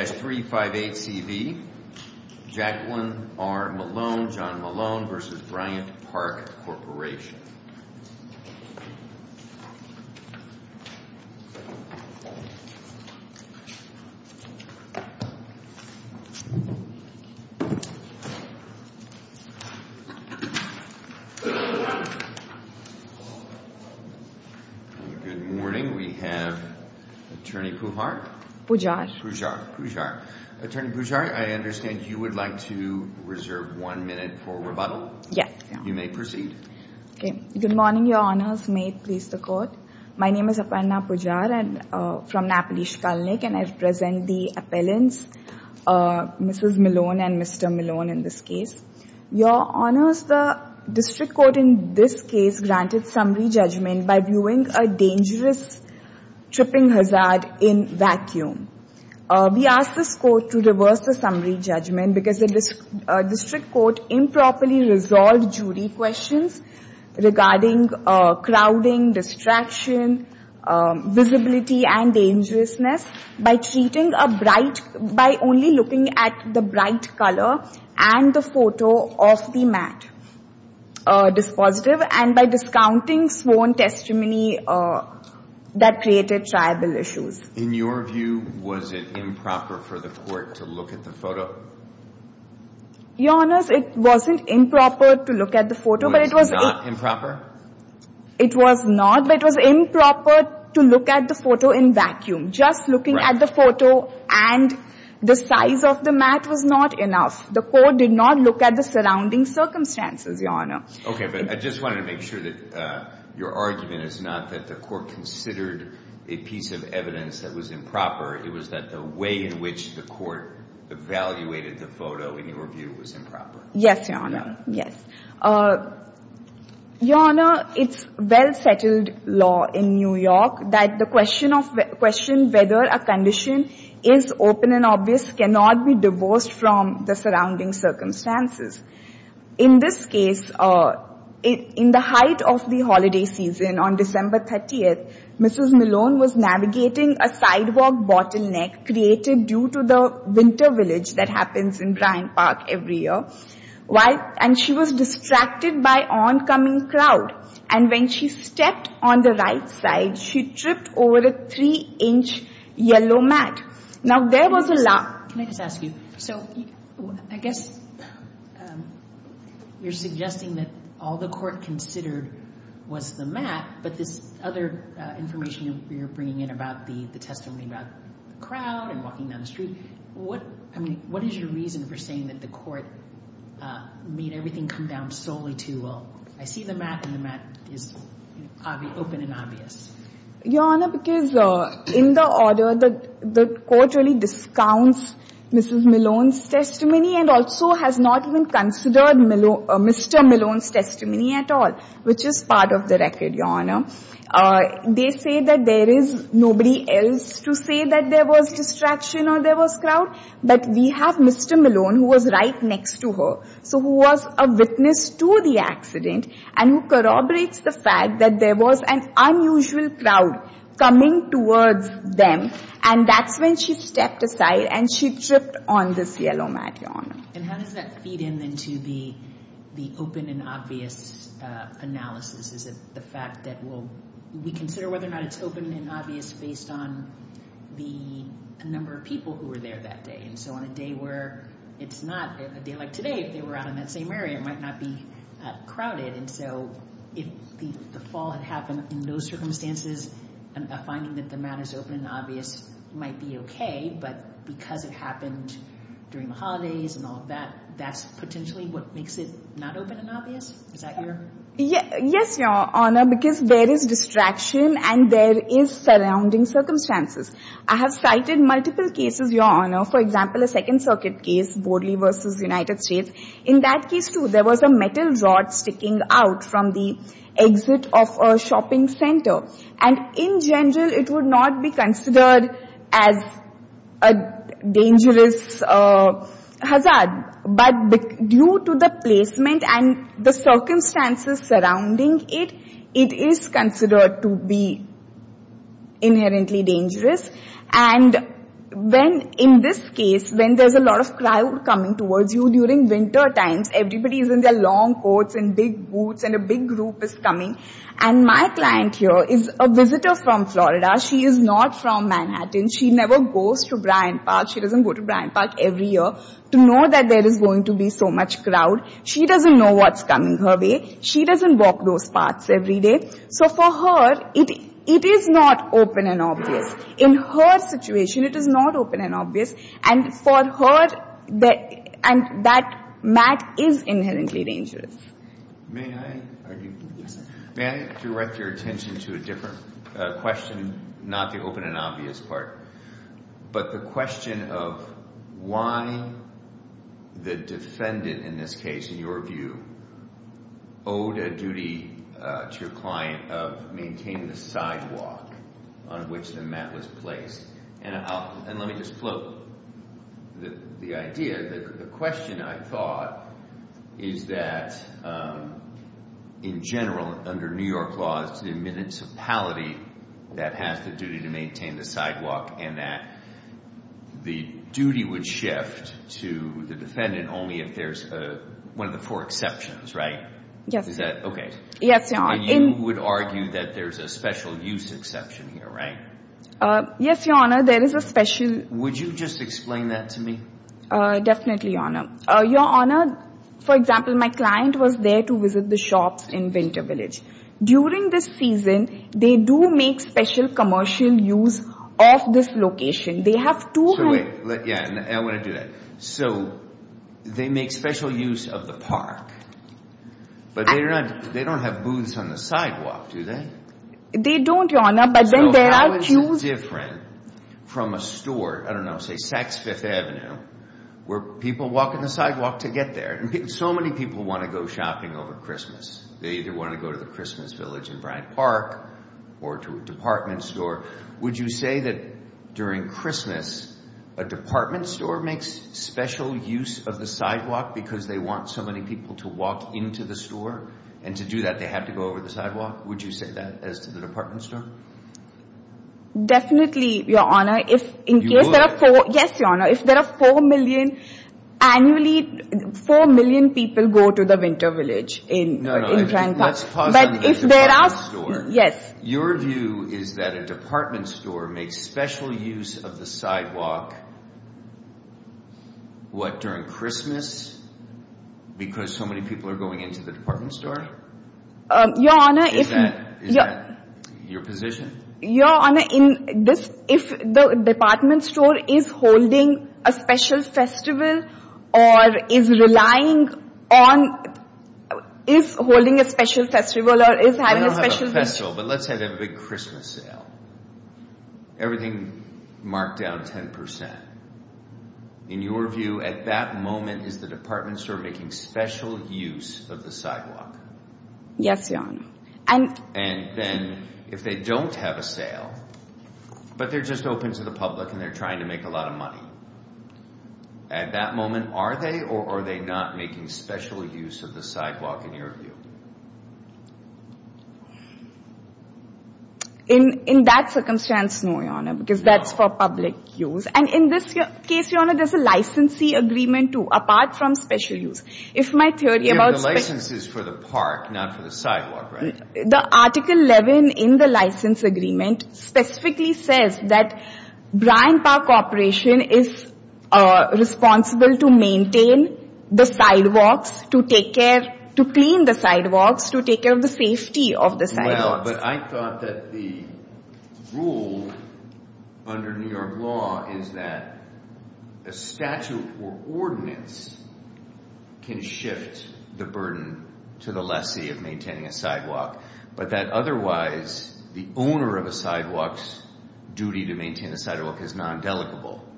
3-358-CV, Jacqueline R. Malone, John Malone v. Bryant Park Corporation. Good morning. We have Attorney Pujar. Pujar. Pujar. Attorney Pujar, I understand you would like to reserve one minute for rebuttal? Yes. You may proceed. Good morning, Your Honors, may it please the court. My name is Aparna Pujar from Napolish Kalnik and I represent the appellants, Mrs. Malone and Mr. Malone in this case. Your Honors, the district court in this case granted summary judgment by reviewing a dangerous tripping hazard in vacuum. We ask this court to reverse the summary judgment because the district court improperly resolved jury questions regarding crowding, distraction, visibility and dangerousness by treating a bright, by only looking at the bright color and the that created tribal issues. In your view, was it improper for the court to look at the photo? Your Honors, it wasn't improper to look at the photo. It was not improper? It was not, but it was improper to look at the photo in vacuum. Just looking at the photo and the size of the mat was not enough. The court did not look at the surrounding circumstances, Your Honor. Okay, but I just wanted to make sure that your argument is not that the court considered a piece of evidence that was improper. It was that the way in which the court evaluated the photo in your view was improper. Yes, Your Honor. Your Honor, it's well settled law in New York that the question of whether a condition is open and obvious cannot be divorced from the surrounding circumstances. In this case, in the height of the holiday season on December 30th, Mrs. Malone was navigating a sidewalk bottleneck created due to the winter village that and she was distracted by oncoming crowd, and when she stepped on the right side, she tripped over a three-inch yellow mat. Now, there was a large Can I just ask you, so I guess you're suggesting that all the court considered was the mat, but this other information you're bringing in about the testimony about the crowd and walking down the street, what is your reason for saying that the court made everything come down solely to, well, I see the mat and the mat is open and obvious? Your Honor, because in the order, the court really discounts Mrs. Malone's testimony and also has not even considered Mr. Malone's testimony at all, which is part of the record, Your Honor. They say that there is nobody else to say that there was distraction or there was crowd, but we have Mr. Malone, who was right next to her, so who was a witness to the accident and who corroborates the fact that there was an unusual crowd coming towards them, and that's when she stepped aside and she tripped on this yellow mat, Your Honor. And how does that feed into the open and obvious analysis? Is it the fact that we consider whether or not it's open and obvious based on the number of people who were there that day? And so on a day where it's not a day like today, if they were out in that same area, it might not be crowded, and so if the fall had happened in those circumstances, a finding that the mat is open and obvious might be okay, but because it happened during the holidays and all of that, that's potentially what makes it not open and obvious? Is that your… Yes, Your Honor, because there is distraction and there is surrounding circumstances. I have cited multiple cases, Your Honor, for example, a Second Circuit case, Borley v. United States. In that case too, there was a metal rod sticking out from the exit of a shopping center, and in general, it would not be considered as a dangerous hazard, but due to the placement and the circumstances surrounding it, it is considered to be inherently dangerous. And when, in this case, when there's a lot of crowd coming towards you during winter times, everybody is in their long coats and big boots and a big group is coming, and my client here is a visitor from Florida. She is not from Manhattan. She never goes to Bryant Park. She doesn't go to Bryant Park every year to know that there is going to be so much crowd. She doesn't know what's coming her way. She doesn't walk those paths every day. So for her, it is not open and obvious. In her situation, it is not open and obvious. And for her, that mat is inherently dangerous. May I direct your attention to a different question, not the open and obvious part, but the question of why the defendant in this case, in your view, owed a duty to your client of maintaining the sidewalk on which the mat was placed. And let me just float the idea. The question, I thought, is that in general, under New York laws, the municipality that has the duty to maintain the sidewalk and that the duty would shift to the defendant only if there's one of the four exceptions, right? Yes. Okay. Yes, Your Honor. And you would argue that there's a special use exception here, right? Yes, Your Honor. There is a special... Would you just explain that to me? Definitely, Your Honor. Your Honor, for example, my client was there to visit the shops in Winter Village. During this season, they do make special commercial use of this location. They have two... So wait. Yeah, I want to do that. So they make special use of the park, but they don't have booths on the sidewalk, do they? They don't, Your Honor. So how is it different from a store, I don't know, say Saks Fifth Avenue, where people walk on the sidewalk to get there? So many people want to go shopping over Christmas. They either want to go to the Christmas Village in Bryant Park or to a department store. Would you say that during Christmas, a department store makes special use of the sidewalk because they want so many people to walk into the store? And to do that, they have to go over the sidewalk? Would you say that as to the department store? Definitely, Your Honor. You would? Yes, Your Honor. If there are 4 million... Annually, 4 million people go to the Winter Village in Bryant Park. No, no. Let's pause on the department store. Yes. Your view is that a department store makes special use of the sidewalk, what, during Christmas? Because so many people are going into the department store? Your Honor, if... Is that your position? Your Honor, if the department store is holding a special festival or is relying on... is holding a special festival or is having a special... We don't have a festival, but let's say they have a big Christmas sale. Everything marked down 10%. In your view, at that moment, is the department store making special use of the sidewalk? Yes, Your Honor. And then, if they don't have a sale, but they're just open to the public and they're trying to make a lot of money, at that moment, are they or are they not making special use of the sidewalk, in your view? In that circumstance, no, Your Honor, because that's for public use. And in this case, Your Honor, there's a licensee agreement, too, apart from special use. If my theory about... The license is for the park, not for the sidewalk, right? The Article 11 in the license agreement specifically says that Bryant Park Corporation is responsible to maintain the sidewalks, to take care, to clean the sidewalks, to take care of the safety of the sidewalks. Well, but I thought that the rule under New York law is that a statute or ordinance can shift the burden to the lessee of maintaining a sidewalk, but that otherwise, the owner of a sidewalk's duty to maintain the sidewalk is non-delicable.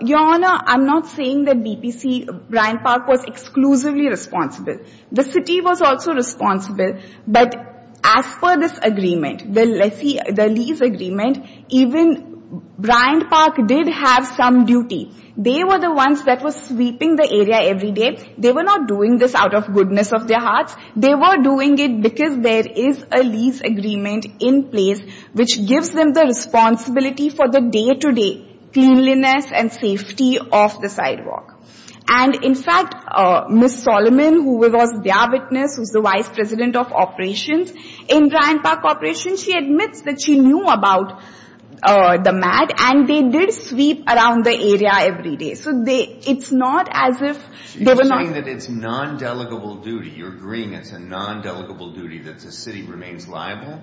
Your Honor, I'm not saying that BPC, Bryant Park was exclusively responsible. The city was also responsible, but as per this agreement, the lease agreement, even Bryant Park did have some duty. They were the ones that were sweeping the area every day. They were not doing this out of goodness of their hearts. They were doing it because there is a lease agreement in place, which gives them the responsibility for the day-to-day cleanliness and safety of the sidewalk. And in fact, Ms. Solomon, who was their witness, who's the vice president of operations in Bryant Park Corporation, she admits that she knew about the mat, and they did sweep around the area every day. So it's not as if they were not... You're agreeing it's a non-delegable duty that the city remains liable,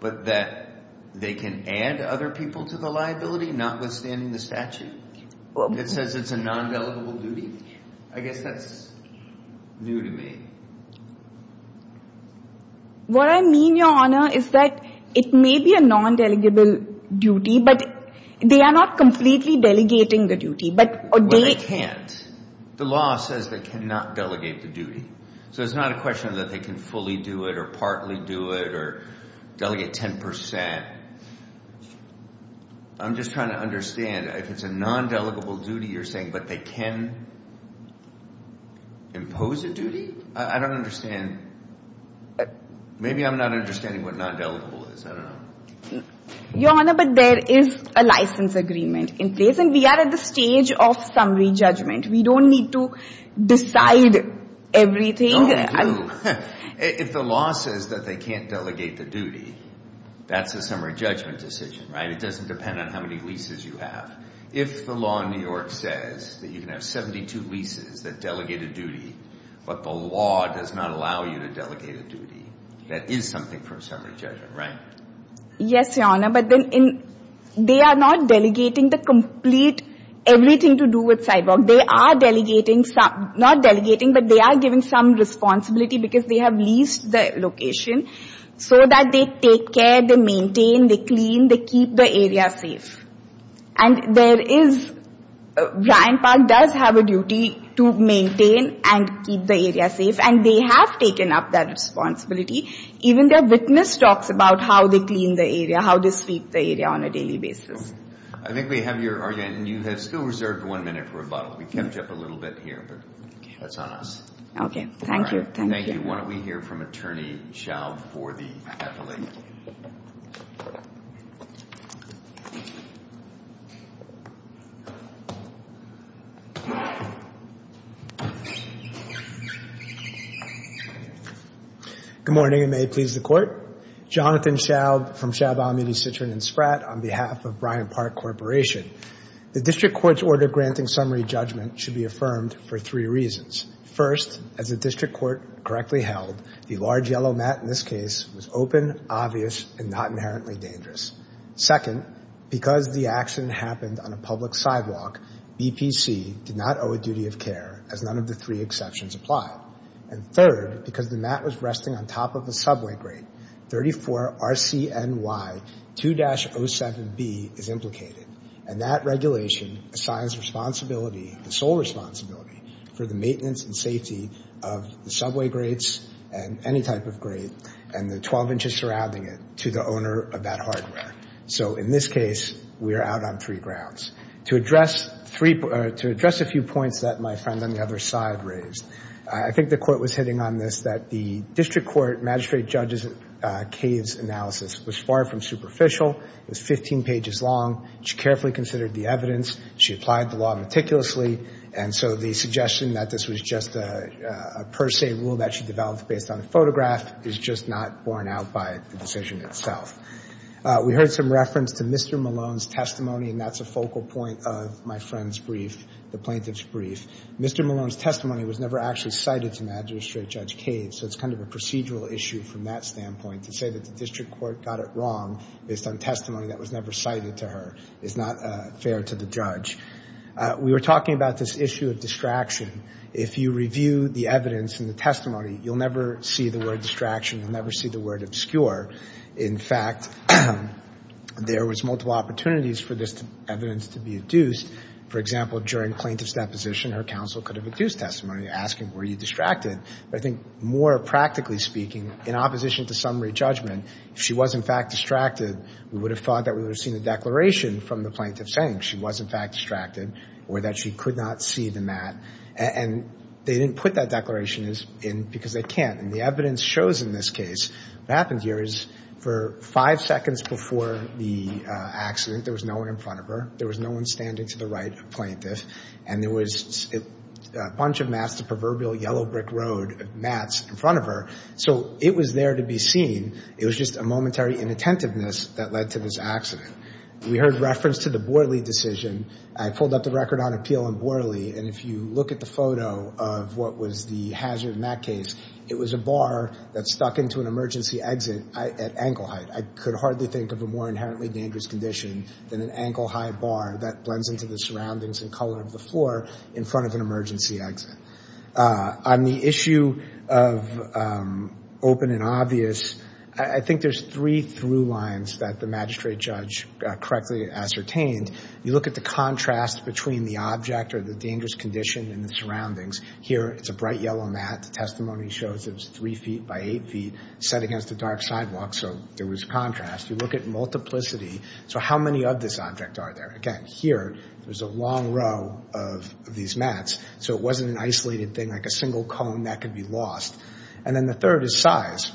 but that they can add other people to the liability notwithstanding the statute? It says it's a non-delegable duty? I guess that's new to me. What I mean, Your Honor, is that it may be a non-delegable duty, but they are not completely delegating the duty. Well, they can't. The law says they cannot delegate the duty. So it's not a question that they can fully do it or partly do it or delegate 10%. I'm just trying to understand if it's a non-delegable duty you're saying, but they can impose a duty? I don't understand. Maybe I'm not understanding what non-delegable is. I don't know. Your Honor, but there is a license agreement in place, and we are at the stage of summary judgment. We don't need to decide everything. No, we do. If the law says that they can't delegate the duty, that's a summary judgment decision, right? It doesn't depend on how many leases you have. If the law in New York says that you can have 72 leases that delegate a duty, but the law does not allow you to delegate a duty, that is something for a summary judgment, right? Yes, Your Honor, but they are not delegating the complete, everything to do with sidewalk. They are delegating, not delegating, but they are giving some responsibility because they have leased the location so that they take care, they maintain, they clean, they keep the area safe. And there is, Bryant Park does have a duty to maintain and keep the area safe, and they have taken up that responsibility. Even their witness talks about how they clean the area, how they sweep the area on a daily basis. I think we have your argument, and you have still reserved one minute for rebuttal. We kept you up a little bit here, but that's on us. Okay, thank you. Thank you. Why don't we hear from Attorney Schaub for the affiliate? Good morning, and may it please the Court. Jonathan Schaub from Schaub, Alameda, Citron, and Spratt on behalf of Bryant Park Corporation. The district court's order granting summary judgment should be affirmed for three reasons. First, as the district court correctly held, the large yellow mat in this case was open, obvious, and not inherently dangerous. Second, because the accident happened on a public sidewalk, BPC did not owe a duty of care, as none of the three exceptions apply. And third, because the mat was resting on top of a subway grate, 34 RCNY 2-07B is implicated, and that regulation assigns the sole responsibility for the maintenance and safety of the subway grates and any type of grate and the 12 inches surrounding it to the owner of that hardware. So in this case, we are out on three grounds. To address a few points that my friend on the other side raised, I think the Court was hitting on this that the district court magistrate judge's case analysis was far from superficial. It was 15 pages long. She carefully considered the evidence. She applied the law meticulously. And so the suggestion that this was just a per se rule that she developed based on a photograph is just not borne out by the decision itself. We heard some reference to Mr. Malone's testimony, and that's a focal point of my friend's brief, the plaintiff's brief. Mr. Malone's testimony was never actually cited to Magistrate Judge Cade, so it's kind of a procedural issue from that standpoint. To say that the district court got it wrong based on testimony that was never cited to her is not fair to the judge. We were talking about this issue of distraction. If you review the evidence in the testimony, you'll never see the word distraction. You'll never see the word obscure. In fact, there was multiple opportunities for this evidence to be adduced. For example, during plaintiff's deposition, her counsel could have adduced testimony asking, were you distracted? But I think more practically speaking, in opposition to summary judgment, if she was, in fact, distracted, we would have thought that we would have seen the declaration from the plaintiff saying she was, in fact, distracted or that she could not see the mat. And they didn't put that declaration in because they can't. And the evidence shows in this case what happened here is for five seconds before the accident, there was no one in front of her, there was no one standing to the right of the plaintiff, and there was a bunch of mats, a proverbial yellow brick road of mats in front of her. So it was there to be seen. It was just a momentary inattentiveness that led to this accident. We heard reference to the Borley decision. I pulled up the record on appeal in Borley, and if you look at the photo of what was the hazard in that case, it was a bar that stuck into an emergency exit at ankle height. I could hardly think of a more inherently dangerous condition than an ankle-high bar that blends into the surroundings and color of the floor in front of an emergency exit. On the issue of open and obvious, I think there's three through lines that the magistrate judge correctly ascertained. You look at the contrast between the object or the dangerous condition and the surroundings. Here it's a bright yellow mat. The testimony shows it was three feet by eight feet set against a dark sidewalk, so there was contrast. You look at multiplicity. So how many of this object are there? Again, here there's a long row of these mats, so it wasn't an isolated thing like a single cone that could be lost. And then the third is size,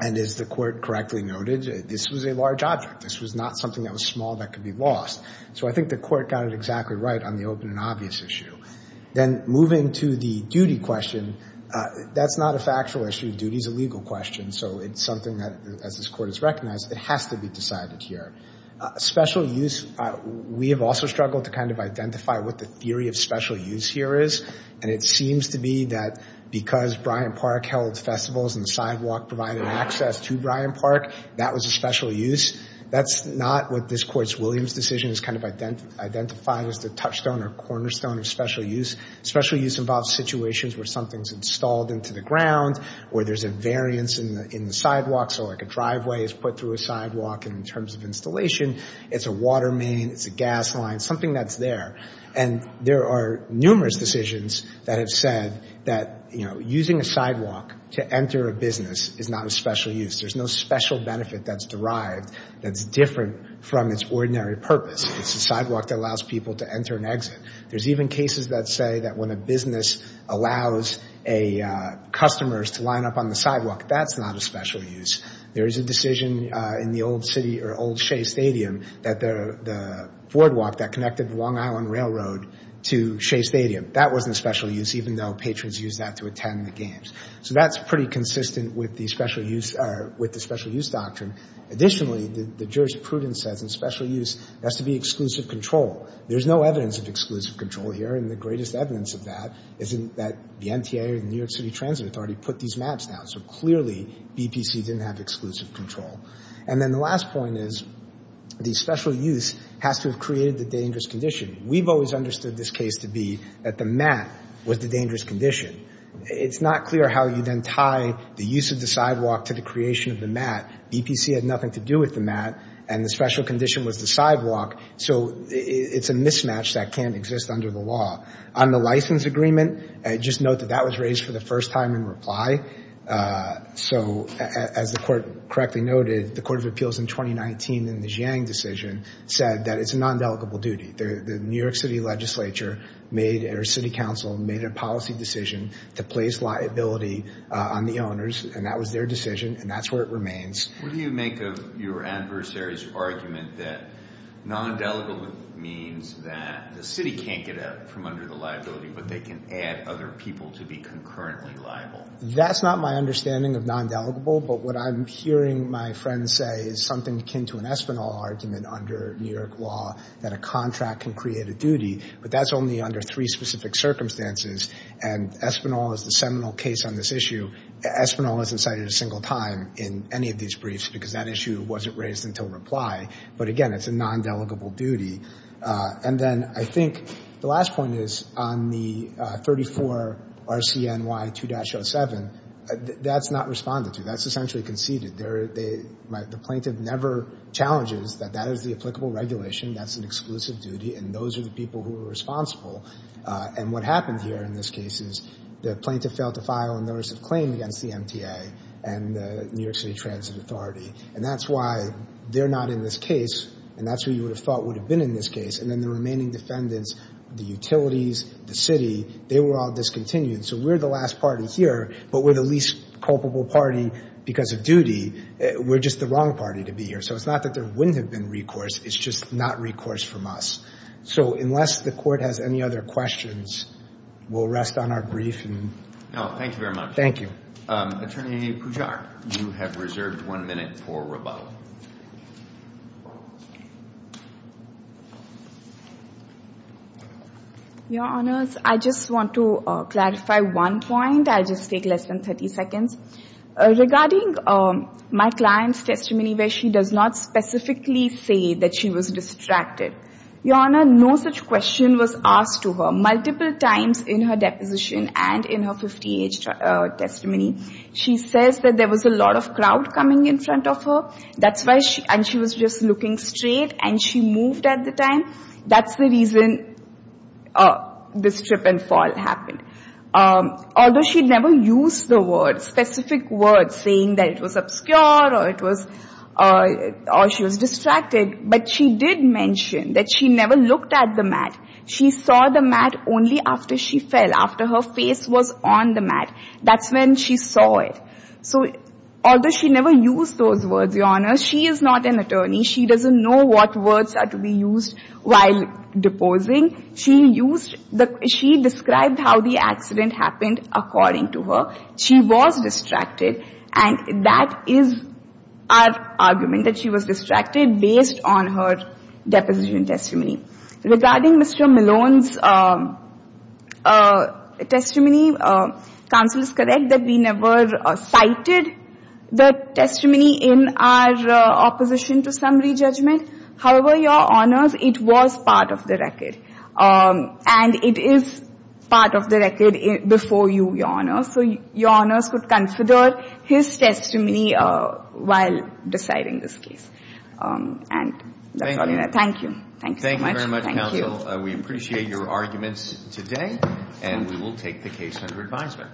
and as the court correctly noted, this was a large object. This was not something that was small that could be lost. So I think the court got it exactly right on the open and obvious issue. Then moving to the duty question, that's not a factual issue. Duty is a legal question, so it's something that, as this court has recognized, it has to be decided here. Special use, we have also struggled to kind of identify what the theory of special use here is, and it seems to be that because Bryant Park held festivals and the sidewalk provided access to Bryant Park, that was a special use. That's not what this court's Williams decision has kind of identified as the touchstone or cornerstone of special use. Special use involves situations where something's installed into the ground, where there's a variance in the sidewalk, so like a driveway is put through a sidewalk, and in terms of installation, it's a water main, it's a gas line, something that's there. And there are numerous decisions that have said that using a sidewalk to enter a business is not a special use. There's no special benefit that's derived that's different from its ordinary purpose. It's a sidewalk that allows people to enter and exit. There's even cases that say that when a business allows customers to line up on the sidewalk, that's not a special use. There is a decision in the old city or old Shea Stadium that the boardwalk that connected Long Island Railroad to Shea Stadium, that wasn't a special use, even though patrons used that to attend the games. So that's pretty consistent with the special use doctrine. Additionally, the jurist Pruden says in special use, it has to be exclusive control. There's no evidence of exclusive control here, and the greatest evidence of that is that the MTA or the New York City Transit Authority put these maps down. So clearly, BPC didn't have exclusive control. And then the last point is the special use has to have created the dangerous condition. We've always understood this case to be that the mat was the dangerous condition. It's not clear how you then tie the use of the sidewalk to the creation of the mat. BPC had nothing to do with the mat, and the special condition was the sidewalk. So it's a mismatch that can't exist under the law. On the license agreement, just note that that was raised for the first time in reply. So as the Court correctly noted, the Court of Appeals in 2019 in the Jiang decision said that it's a non-dedicable duty. The New York City legislature made or city council made a policy decision to place liability on the owners, and that was their decision, and that's where it remains. What do you make of your adversary's argument that non-dedicable means that the city can't get out from under the liability, but they can add other people to be concurrently liable? That's not my understanding of non-dedicable, but what I'm hearing my friends say is something akin to an Espinal argument under New York law that a contract can create a duty. But that's only under three specific circumstances, and Espinal is the seminal case on this issue. Espinal isn't cited a single time in any of these briefs because that issue wasn't raised until reply. But, again, it's a non-dedicable duty. And then I think the last point is on the 34 RCNY 2-07, that's not responded to. That's essentially conceded. The plaintiff never challenges that that is the applicable regulation, that's an exclusive duty, and those are the people who are responsible. And what happened here in this case is the plaintiff failed to file a notice of claim against the MTA and the New York City Transit Authority, and that's why they're not in this case, and that's who you would have thought would have been in this case. And then the remaining defendants, the utilities, the city, they were all discontinued. So we're the last party here, but we're the least culpable party because of duty. We're just the wrong party to be here. So it's not that there wouldn't have been recourse. It's just not recourse from us. So unless the Court has any other questions, we'll rest on our brief. No, thank you very much. Thank you. Attorney Pujar, you have reserved one minute for rebuttal. Your Honors, I just want to clarify one point. I'll just take less than 30 seconds. Regarding my client's testimony where she does not specifically say that she was distracted, Your Honor, no such question was asked to her multiple times in her deposition and in her 50-age testimony. She says that there was a lot of crowd coming in front of her, and she was just looking straight, and she moved at the time. That's the reason this trip and fall happened. Although she never used the words, specific words, saying that it was obscure or she was distracted, but she did mention that she never looked at the mat. She saw the mat only after she fell, after her face was on the mat. That's when she saw it. So although she never used those words, Your Honor, she is not an attorney. She doesn't know what words are to be used while deposing. She described how the accident happened according to her. She was distracted, and that is our argument, that she was distracted based on her deposition testimony. Regarding Mr. Malone's testimony, counsel is correct that we never cited the testimony in our opposition to summary judgment. However, Your Honors, it was part of the record, and it is part of the record before you, Your Honors. So Your Honors could consider his testimony while deciding this case. And that's all, Your Honor. Thank you. Thank you very much, counsel. We appreciate your arguments today, and we will take the case under advisement.